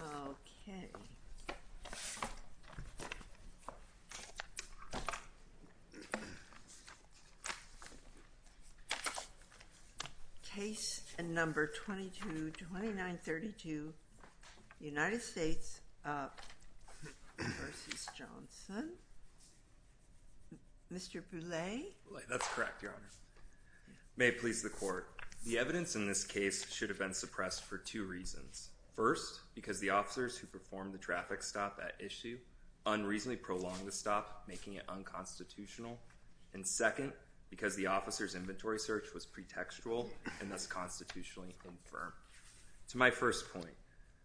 Okay. Case number 222932, United States v. Johnson. Mr. Boulay. That's correct, Your Honor. May it please the Court. The evidence in this case should have been suppressed for two reasons. First, because the officers who performed the traffic stop at issue unreasonably prolonged the stop, making it unconstitutional. And second, because the officer's inventory search was pretextual and thus constitutionally infirm. To my first point.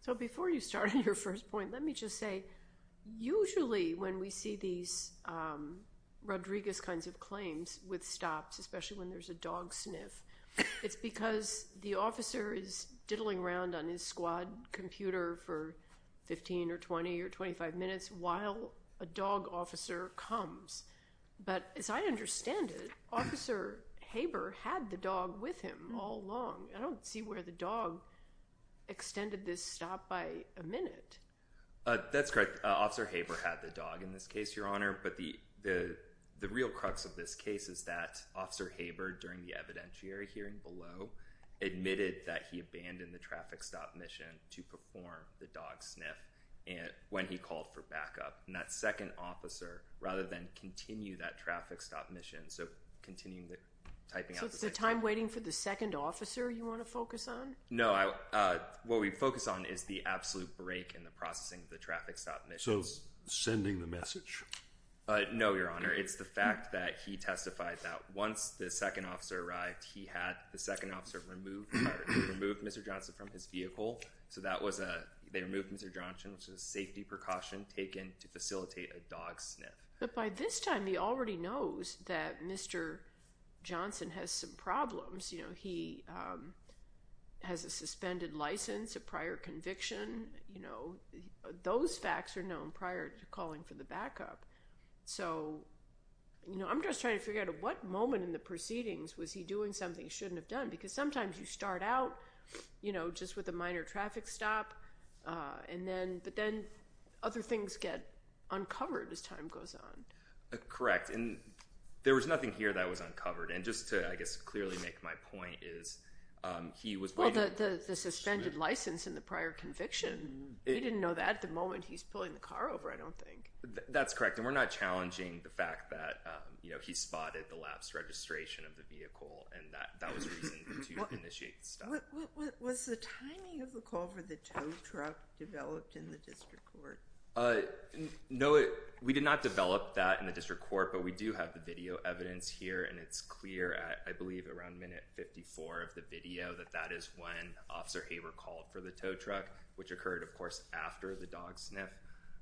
So before you start on your first point, let me just say, usually when we see these Rodriguez kinds of claims with stops, especially when there's a dog sniff, it's because the officer is diddling around on his squad computer for 15 or 20 or 25 minutes while a dog officer comes. But as I understand it, Officer Haber had the dog with him all along. I don't see where the dog extended this stop by a minute. That's correct. Officer Haber had the dog in this case, Your Honor. But the real crux of this case is that Officer Haber, during the evidentiary hearing below, admitted that he abandoned the traffic stop mission to perform the dog sniff when he called for backup. And that second officer, rather than continue that traffic stop mission, so continuing the typing out the second officer. So it's the time waiting for the second officer you want to focus on? No. What we focus on is the absolute break in the processing of the traffic stop mission. So sending the message? No, Your Honor. It's the fact that he testified that once the second officer arrived, he had the second officer remove Mr. Johnson from his vehicle. So that was a, they removed Mr. Johnson, which was a safety precaution taken to facilitate a dog sniff. But by this time, he already knows that Mr. Johnson has some problems. You know, he has a suspended license, a prior conviction. You know, those facts are known prior to calling for the backup. So, you know, I'm just trying to figure out at what moment in the proceedings was he doing something he shouldn't have done? Because sometimes you start out, you know, just with a minor traffic stop, and then, but then other things get uncovered as time goes on. Correct. And there was nothing here that was uncovered. And just to, I guess, clearly make my point is, he was waiting for the... The suspended license and the prior conviction. He didn't know that at the moment he's pulling the car over, I don't think. That's correct. And we're not challenging the fact that, you know, he spotted the lapsed registration of the vehicle. And that was reason to initiate the stop. Was the timing of the call for the tow truck developed in the district court? No, we did not develop that in the district court, but we do have the video evidence here. And it's clear, I believe, around minute 54 of the video, that that is when Officer Haber called for the tow truck, which occurred, of course, after the dog sniff.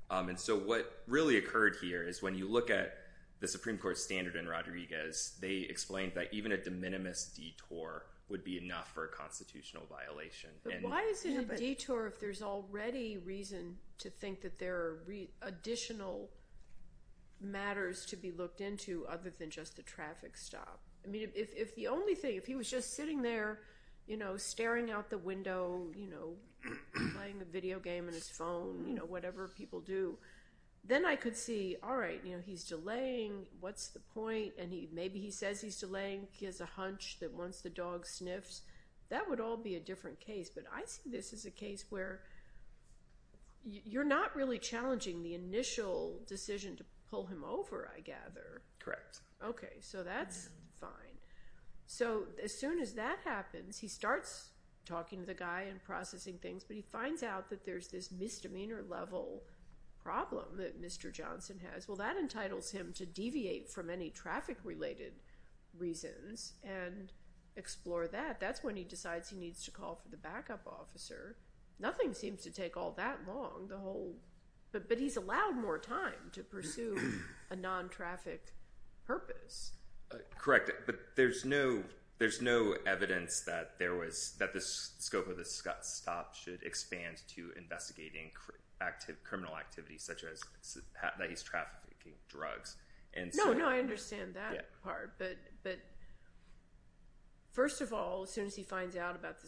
And so what really occurred here is when you look at the Supreme Court standard in Rodriguez, they explained that even a de minimis detour would be enough for a constitutional violation. But why is it a detour if there's already reason to think that there are additional matters to be looked into other than just the traffic stop? I mean, if the only thing, if he was just sitting there, you know, staring out the window, you know, playing a video game on his phone, you know, whatever people do, then I could see, all right, you know, he's delaying, what's the point? And maybe he says he's delaying, he has a hunch that once the dog sniffs, that would all be a different case. But I see this as a case where you're not really challenging the initial decision to pull him over, I gather. Correct. Okay, so that's fine. So as soon as that happens, he starts talking to the guy and processing things, but he finds out that there's this misdemeanor level problem that Mr. Johnson has. Well, that entitles him to deviate from any traffic-related reasons and explore that. That's when he decides he needs to call for the backup officer. Nothing seems to take all that long. But he's allowed more time to pursue a non-traffic purpose. Correct. But there's no evidence that there was, that the scope of the stop should expand to investigating criminal activity, such as that he's trafficking drugs. No, no, I understand that part. But first of all, as soon as he finds out about the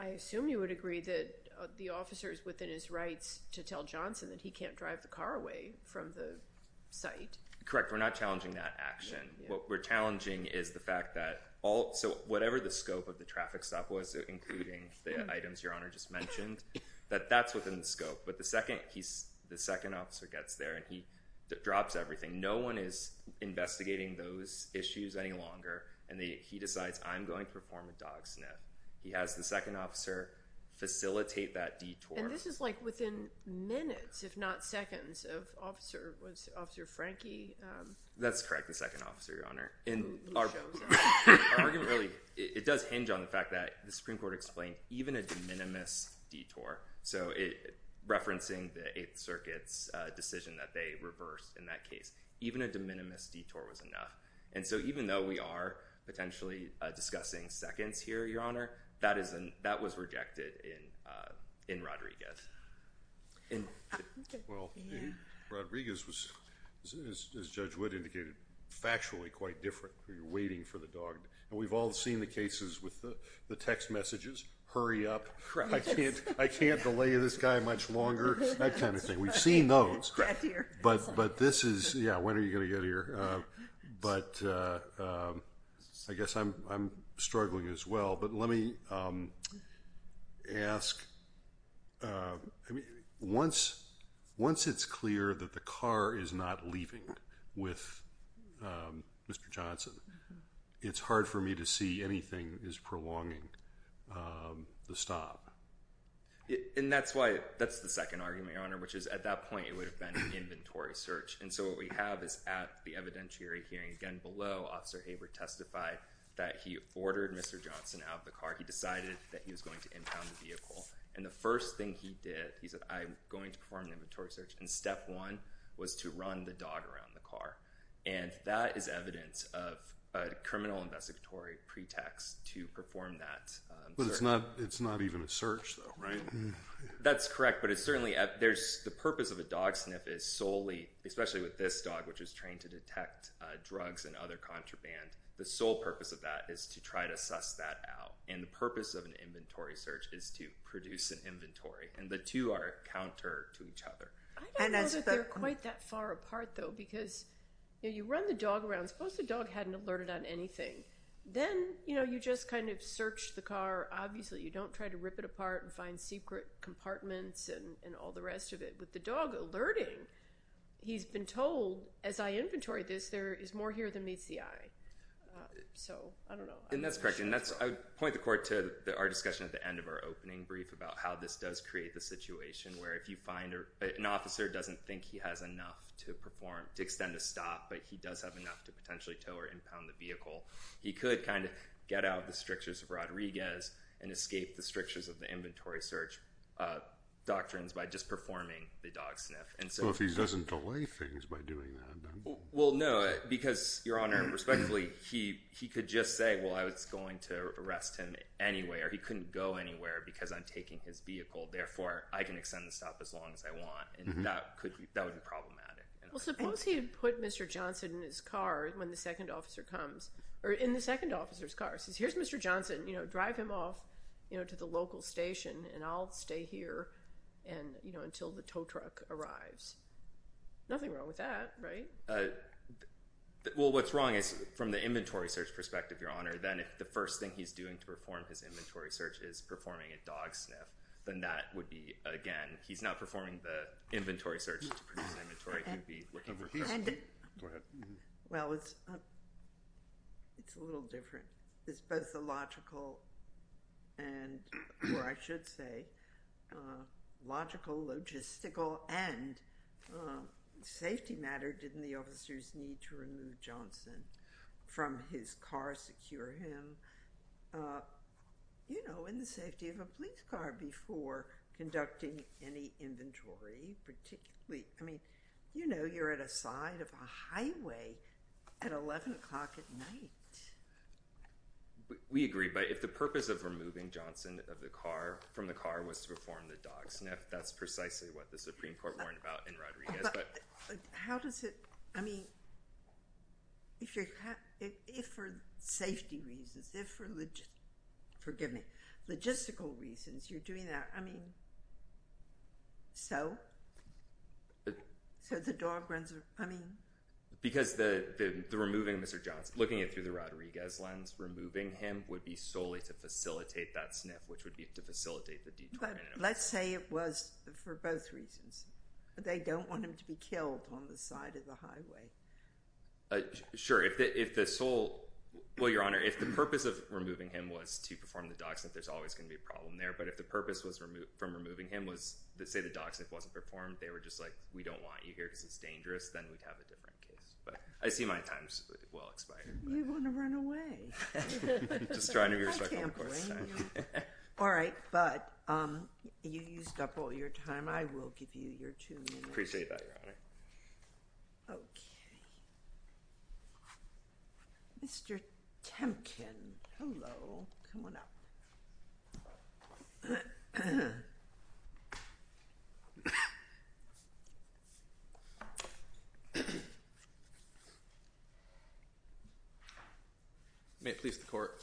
I assume you would agree that the officer is within his rights to tell Johnson that he can't drive the car away from the site. Correct. We're not challenging that action. What we're challenging is the fact that all, so whatever the scope of the traffic stop was, including the items Your Honor just mentioned, that that's within the scope. But the second officer gets there and he drops everything. No one is investigating those issues any longer. And he decides, I'm going to perform a dog sniff. He has the second officer facilitate that detour. And this is like within minutes, if not seconds, of Officer, was it Officer Frankie? That's correct, the second officer, Your Honor. He shows up. It does hinge on the fact that the Supreme Court explained even a de minimis detour. So referencing the Eighth Circuit's decision that they reversed in that case, even a de minimis detour was enough. And so even though we are potentially discussing seconds here, Your Honor, that is, that was rejected in Rodriguez. Well, in Rodriguez was, as Judge Wood indicated, factually quite different. You're waiting for the dog. And we've all seen the cases with the text messages, hurry up, I can't delay this guy much longer, that kind of thing. We've seen those. But this is, yeah, when are you going to get here? But I guess I'm struggling as well. But let me ask, once it's clear that the car is not leaving with Mr. Johnson, it's hard for me to see anything is prolonging the stop. And that's why, that's the second argument, Your Honor, which is at that point it would have been an inventory search. And so what we have is at the evidentiary hearing again below, Officer Haber testified that he ordered Mr. Johnson out of the car. He decided that he was going to impound the vehicle. And the first thing he did, he said, I'm going to perform an inventory search. And step one was to run the dog around the car. And that is evidence of a criminal investigatory pretext to perform that search. But it's not even a search though, right? That's correct. But it's certainly, there's, the purpose of a dog sniff is solely, especially with this dog, which is trained to detect drugs and other contraband, the sole purpose of that is to try to suss that out. And the purpose of an inventory search is to produce an inventory. And the two are counter to each other. I don't know that they're quite that far apart though, because you run the dog around, suppose the dog hadn't alerted on anything. Then, you know, you just kind of search the car. Obviously you don't try to rip it apart and find secret compartments and all the rest of it. With the dog alerting, he's been told, as I inventory this, there is more here than meets the eye. So I don't know. And that's correct. And that's, I would point the court to our discussion at the end of our opening brief about how this does create the situation where if you find an officer doesn't think he has enough to perform, to extend a stop, but he does have enough to potentially tow or impound the vehicle. He could kind of get out of the strictures of Well, if he doesn't delay things by doing that, then. Well, no, because, Your Honor, respectfully, he could just say, well, I was going to arrest him anyway, or he couldn't go anywhere because I'm taking his vehicle. Therefore, I can extend the stop as long as I want. And that could be, that would be problematic. Well, suppose he had put Mr. Johnson in his car when the second officer comes, or in the second officer's car, says, here's Mr. Johnson, you know, drive him off, you know, to the tow truck arrives. Nothing wrong with that, right? Well, what's wrong is from the inventory search perspective, Your Honor, then if the first thing he's doing to perform his inventory search is performing a dog sniff, then that would be, again, he's not performing the inventory search to produce inventory, he would be looking for. Go ahead. Well, it's a little different. It's both a logical and, or I should say, logical logistic and safety matter. Didn't the officers need to remove Johnson from his car, secure him, you know, in the safety of a police car before conducting any inventory, particularly, I mean, you know, you're at a side of a highway at 11 o'clock at night. We agree, but if the purpose of removing Johnson of the car, from the car, was to perform the dog sniff, that's precisely what the Supreme Court warned about in Rodriguez, but. How does it, I mean, if you're, if for safety reasons, if for, forgive me, logistical reasons you're doing that, I mean, so, so the dog runs, I mean. Because the removing Mr. Johnson, looking at it through the Rodriguez lens, removing him would be solely to facilitate that sniff, which would be to facilitate the detour. Let's say it was for both reasons. They don't want him to be killed on the side of the highway. Sure, if the sole, well, Your Honor, if the purpose of removing him was to perform the dog sniff, there's always going to be a problem there, but if the purpose was from removing him was to say the dog sniff wasn't performed, they were just like, we don't want you here because it's dangerous, then we'd have a different case, but I see my time's well expired. You want to run away. Just trying to be respectful. I can't blame you. All right, but you used up all your time. I will give you your two minutes. Appreciate that, Your Honor. Okay. Mr. Temkin. Hello. Come on up. May it please the Court.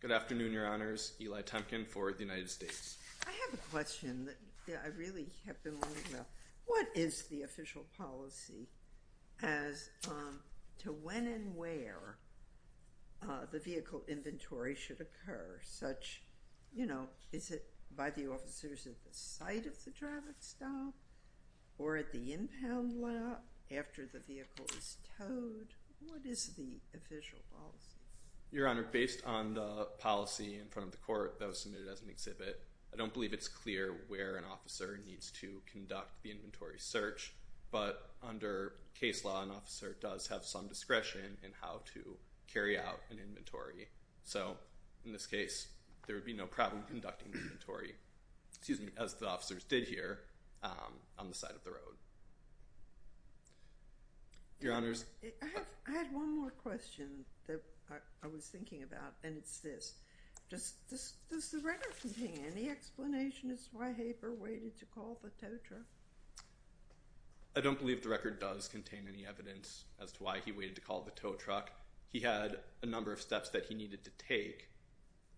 Good afternoon, Your Honors. Eli Temkin for the United States. I have a question that I really have been wondering about. What is the official policy as to when and where the vehicle inventory should occur? Is it by the officers at the site of the traffic stop or at the impound lot after the vehicle is towed? What is the official policy? Your Honor, based on the policy in front of the Court that was submitted as an exhibit, I don't believe it's clear where an officer needs to conduct the inventory search, but under case law, an officer does have some discretion in how to carry out an inventory. So in this case, there would be no problem conducting the inventory, as the officers did here on the side of the road. Your Honors. I had one more question that I was thinking about, and it's this. Does the record contain any explanation as to why Haber waited to call the tow truck? I don't believe the record does contain any evidence as to why he waited to call the tow truck. He had a number of steps that he needed to take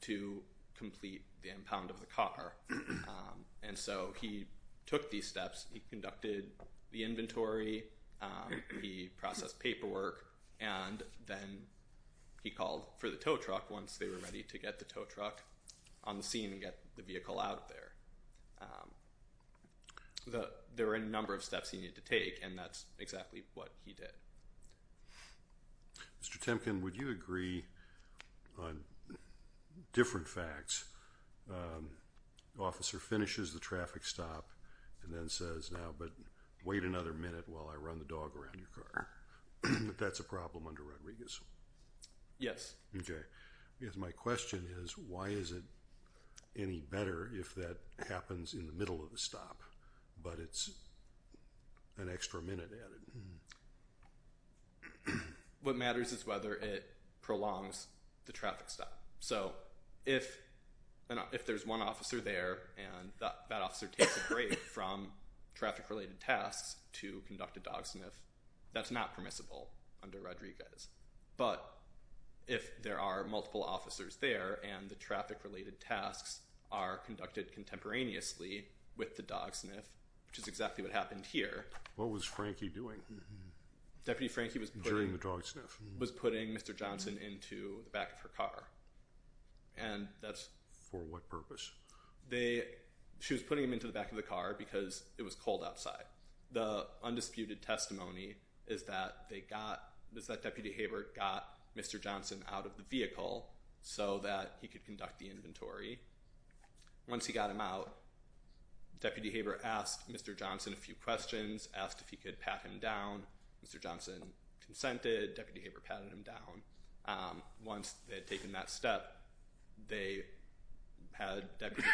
to complete the impound of the car. And so he took these steps. He conducted the inventory, he processed paperwork, and then he called for the tow truck once they were ready to get the tow truck on the scene and get the vehicle out there. So there were a number of steps he needed to take, and that's exactly what he did. Mr. Temkin, would you agree on different facts? The officer finishes the traffic stop and then says, now, but wait another minute while I run the dog around your car. That's a problem under Rodriguez? Yes. Because my question is, why is it any better if that happens in the middle of the stop, but it's an extra minute added? What matters is whether it prolongs the traffic stop. So if there's one officer there and that officer takes a break from traffic-related tasks to conduct a dog sniff, that's not permissible under Rodriguez. But if there are multiple officers there and the traffic-related tasks are conducted contemporaneously with the dog sniff, which is exactly what happened here. What was Frankie doing? Deputy Frankie was putting Mr. Johnson into the back of her car. And that's... For what purpose? She was putting him into the back of the car because it was cold outside. The undisputed testimony is that Deputy Haber got Mr. Johnson out of the vehicle so that he could conduct the inventory. Once he got him out, Deputy Haber asked Mr. Johnson a few questions, asked if he could pat him down. Mr. Johnson consented. Deputy Haber patted him down. Once they had taken that step, they had Deputy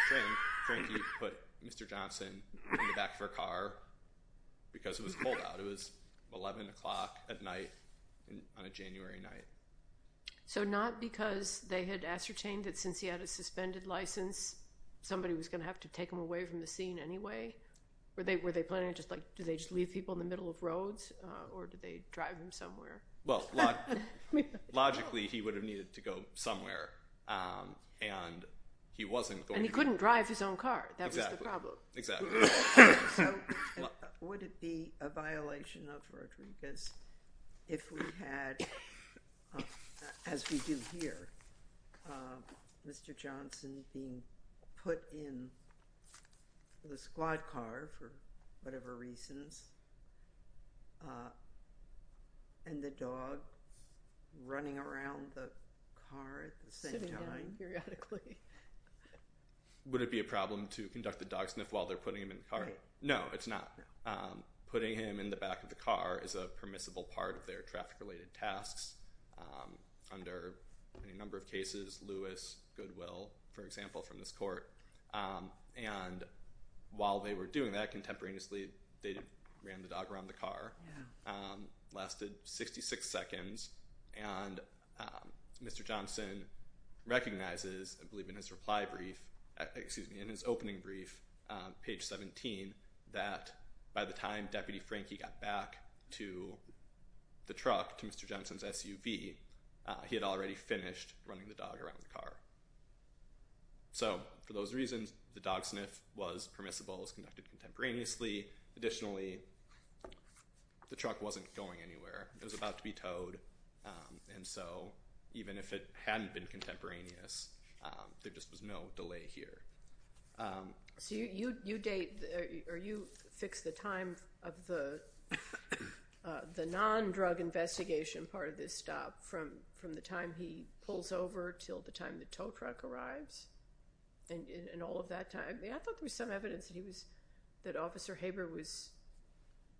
Frankie put Mr. Johnson in the back of her car because it was cold out. It was 11 o'clock at night on a January night. So not because they had ascertained that since he had a suspended license, somebody was going to have to take him away from the scene anyway? Were they planning to just like... Did they just leave people in the middle of roads? Or did they drive him somewhere? Well, logically, he would have needed to go somewhere. And he wasn't going to... And he couldn't drive his own car. That was the problem. Exactly. Would it be a violation of Rodriguez if we had, as we do here, Mr. Johnson being put in the squad car for whatever reasons and the dog running around the car at the same time? Would it be a problem to conduct the dog sniff while they're putting him in the car? No, it's not. Putting him in the back of the car is a permissible part of their traffic-related tasks under any number of cases. Lewis, Goodwill, for example, from this court. And while they were doing that contemporaneously, they ran the dog around the car. Lasted 66 seconds. And Mr. Johnson recognizes, I believe in his reply brief, excuse me, in his opening brief, page 17, that by the time Deputy Frankie got back to the truck, to Mr. Johnson's SUV, he had already finished running the dog around the car. So for those reasons, the dog sniff was permissible. It was conducted contemporaneously. Additionally, the truck wasn't going anywhere. It was about to be towed. And so even if it hadn't been contemporaneous, there just was no delay here. So you date or you fix the time of the non-drug investigation part of this stop from the time he pulls over till the time the tow truck arrives and all of that time. I thought there was some evidence that he was, that Officer Haber was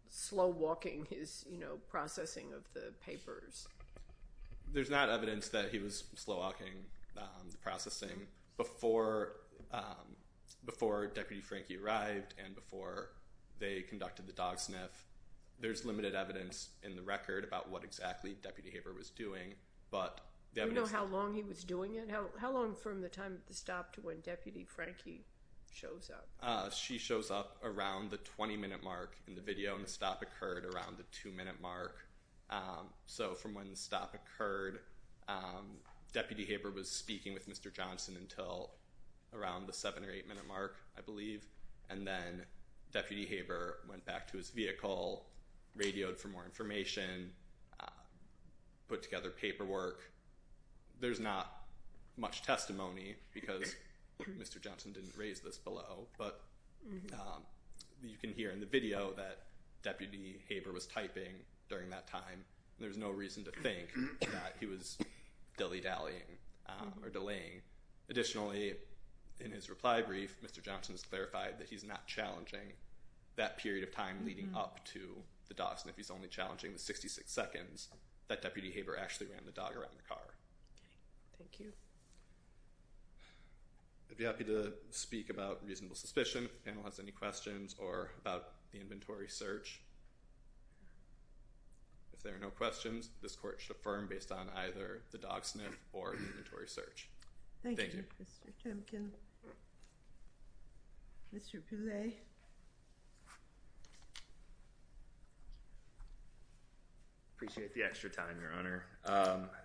slow walking his processing of the papers. There's not evidence that he was slow walking the processing before Deputy Frankie arrived and before they conducted the dog sniff. There's limited evidence in the record about what exactly Deputy Haber was doing. But the evidence- Do you know how long he was doing it? How long from the time of the stop to when Deputy Frankie shows up? She shows up around the 20-minute mark in the video, and the stop occurred around the two-minute mark. So from when the stop occurred, Deputy Haber was speaking with Mr. Johnson until around the seven or eight-minute mark, I believe. And then Deputy Haber went back to his vehicle, radioed for more information, put together paperwork. There's not much testimony because Mr. Johnson didn't raise this below, but you can hear in the video that Deputy Haber was typing during that time. There's no reason to think that he was dilly-dallying or delaying. Additionally, in his reply brief, Mr. Johnson's clarified that he's not challenging that period of time leading up to the dogs. And if he's only challenging the 66 seconds, that Deputy Haber actually ran the dog around the car. Thank you. I'd be happy to speak about reasonable suspicion if the panel has any questions or about the inventory search. If there are no questions, this court should affirm based on either the dog sniff or the inventory search. Thank you. Thank you, Mr. Timken. Mr. Pillay. Appreciate the extra time, Your Honor.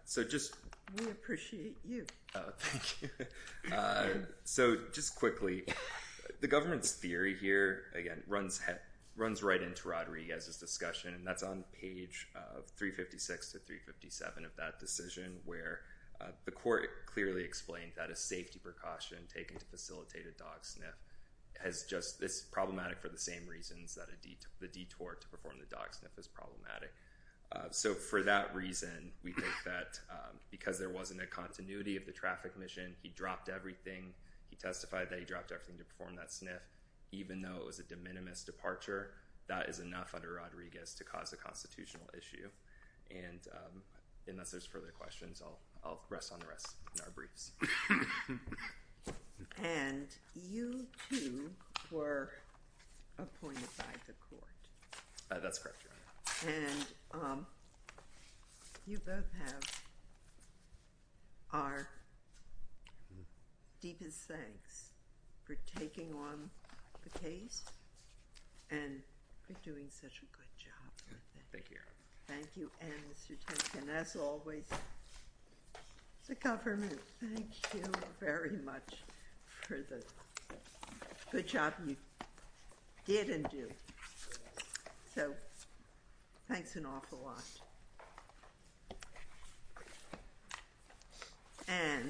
So just— We appreciate you. Oh, thank you. So just quickly, the government's theory here, again, runs right into Rod Riega's discussion, and that's on page 356 to 357 of that decision where the court clearly explained that a safety precaution taken to facilitate a dog sniff is problematic for the same reasons that the detour to perform the dog sniff is problematic. So for that reason, we think that because there wasn't a continuity of the traffic mission, he dropped everything, he testified that he dropped everything to perform that sniff, even though it was a de minimis departure, that is enough under Rod Riega's to cause a constitutional issue. And unless there's further questions, I'll rest on the rest of our briefs. And you, too, were appointed by the court. That's correct, Your Honor. And you both have our deepest thanks for taking on the case and for doing such a good job. Thank you, Your Honor. Thank you. And, Mr. Tenkin, as always, the government, thank you very much for the good job you did and do. So, thanks an awful lot. And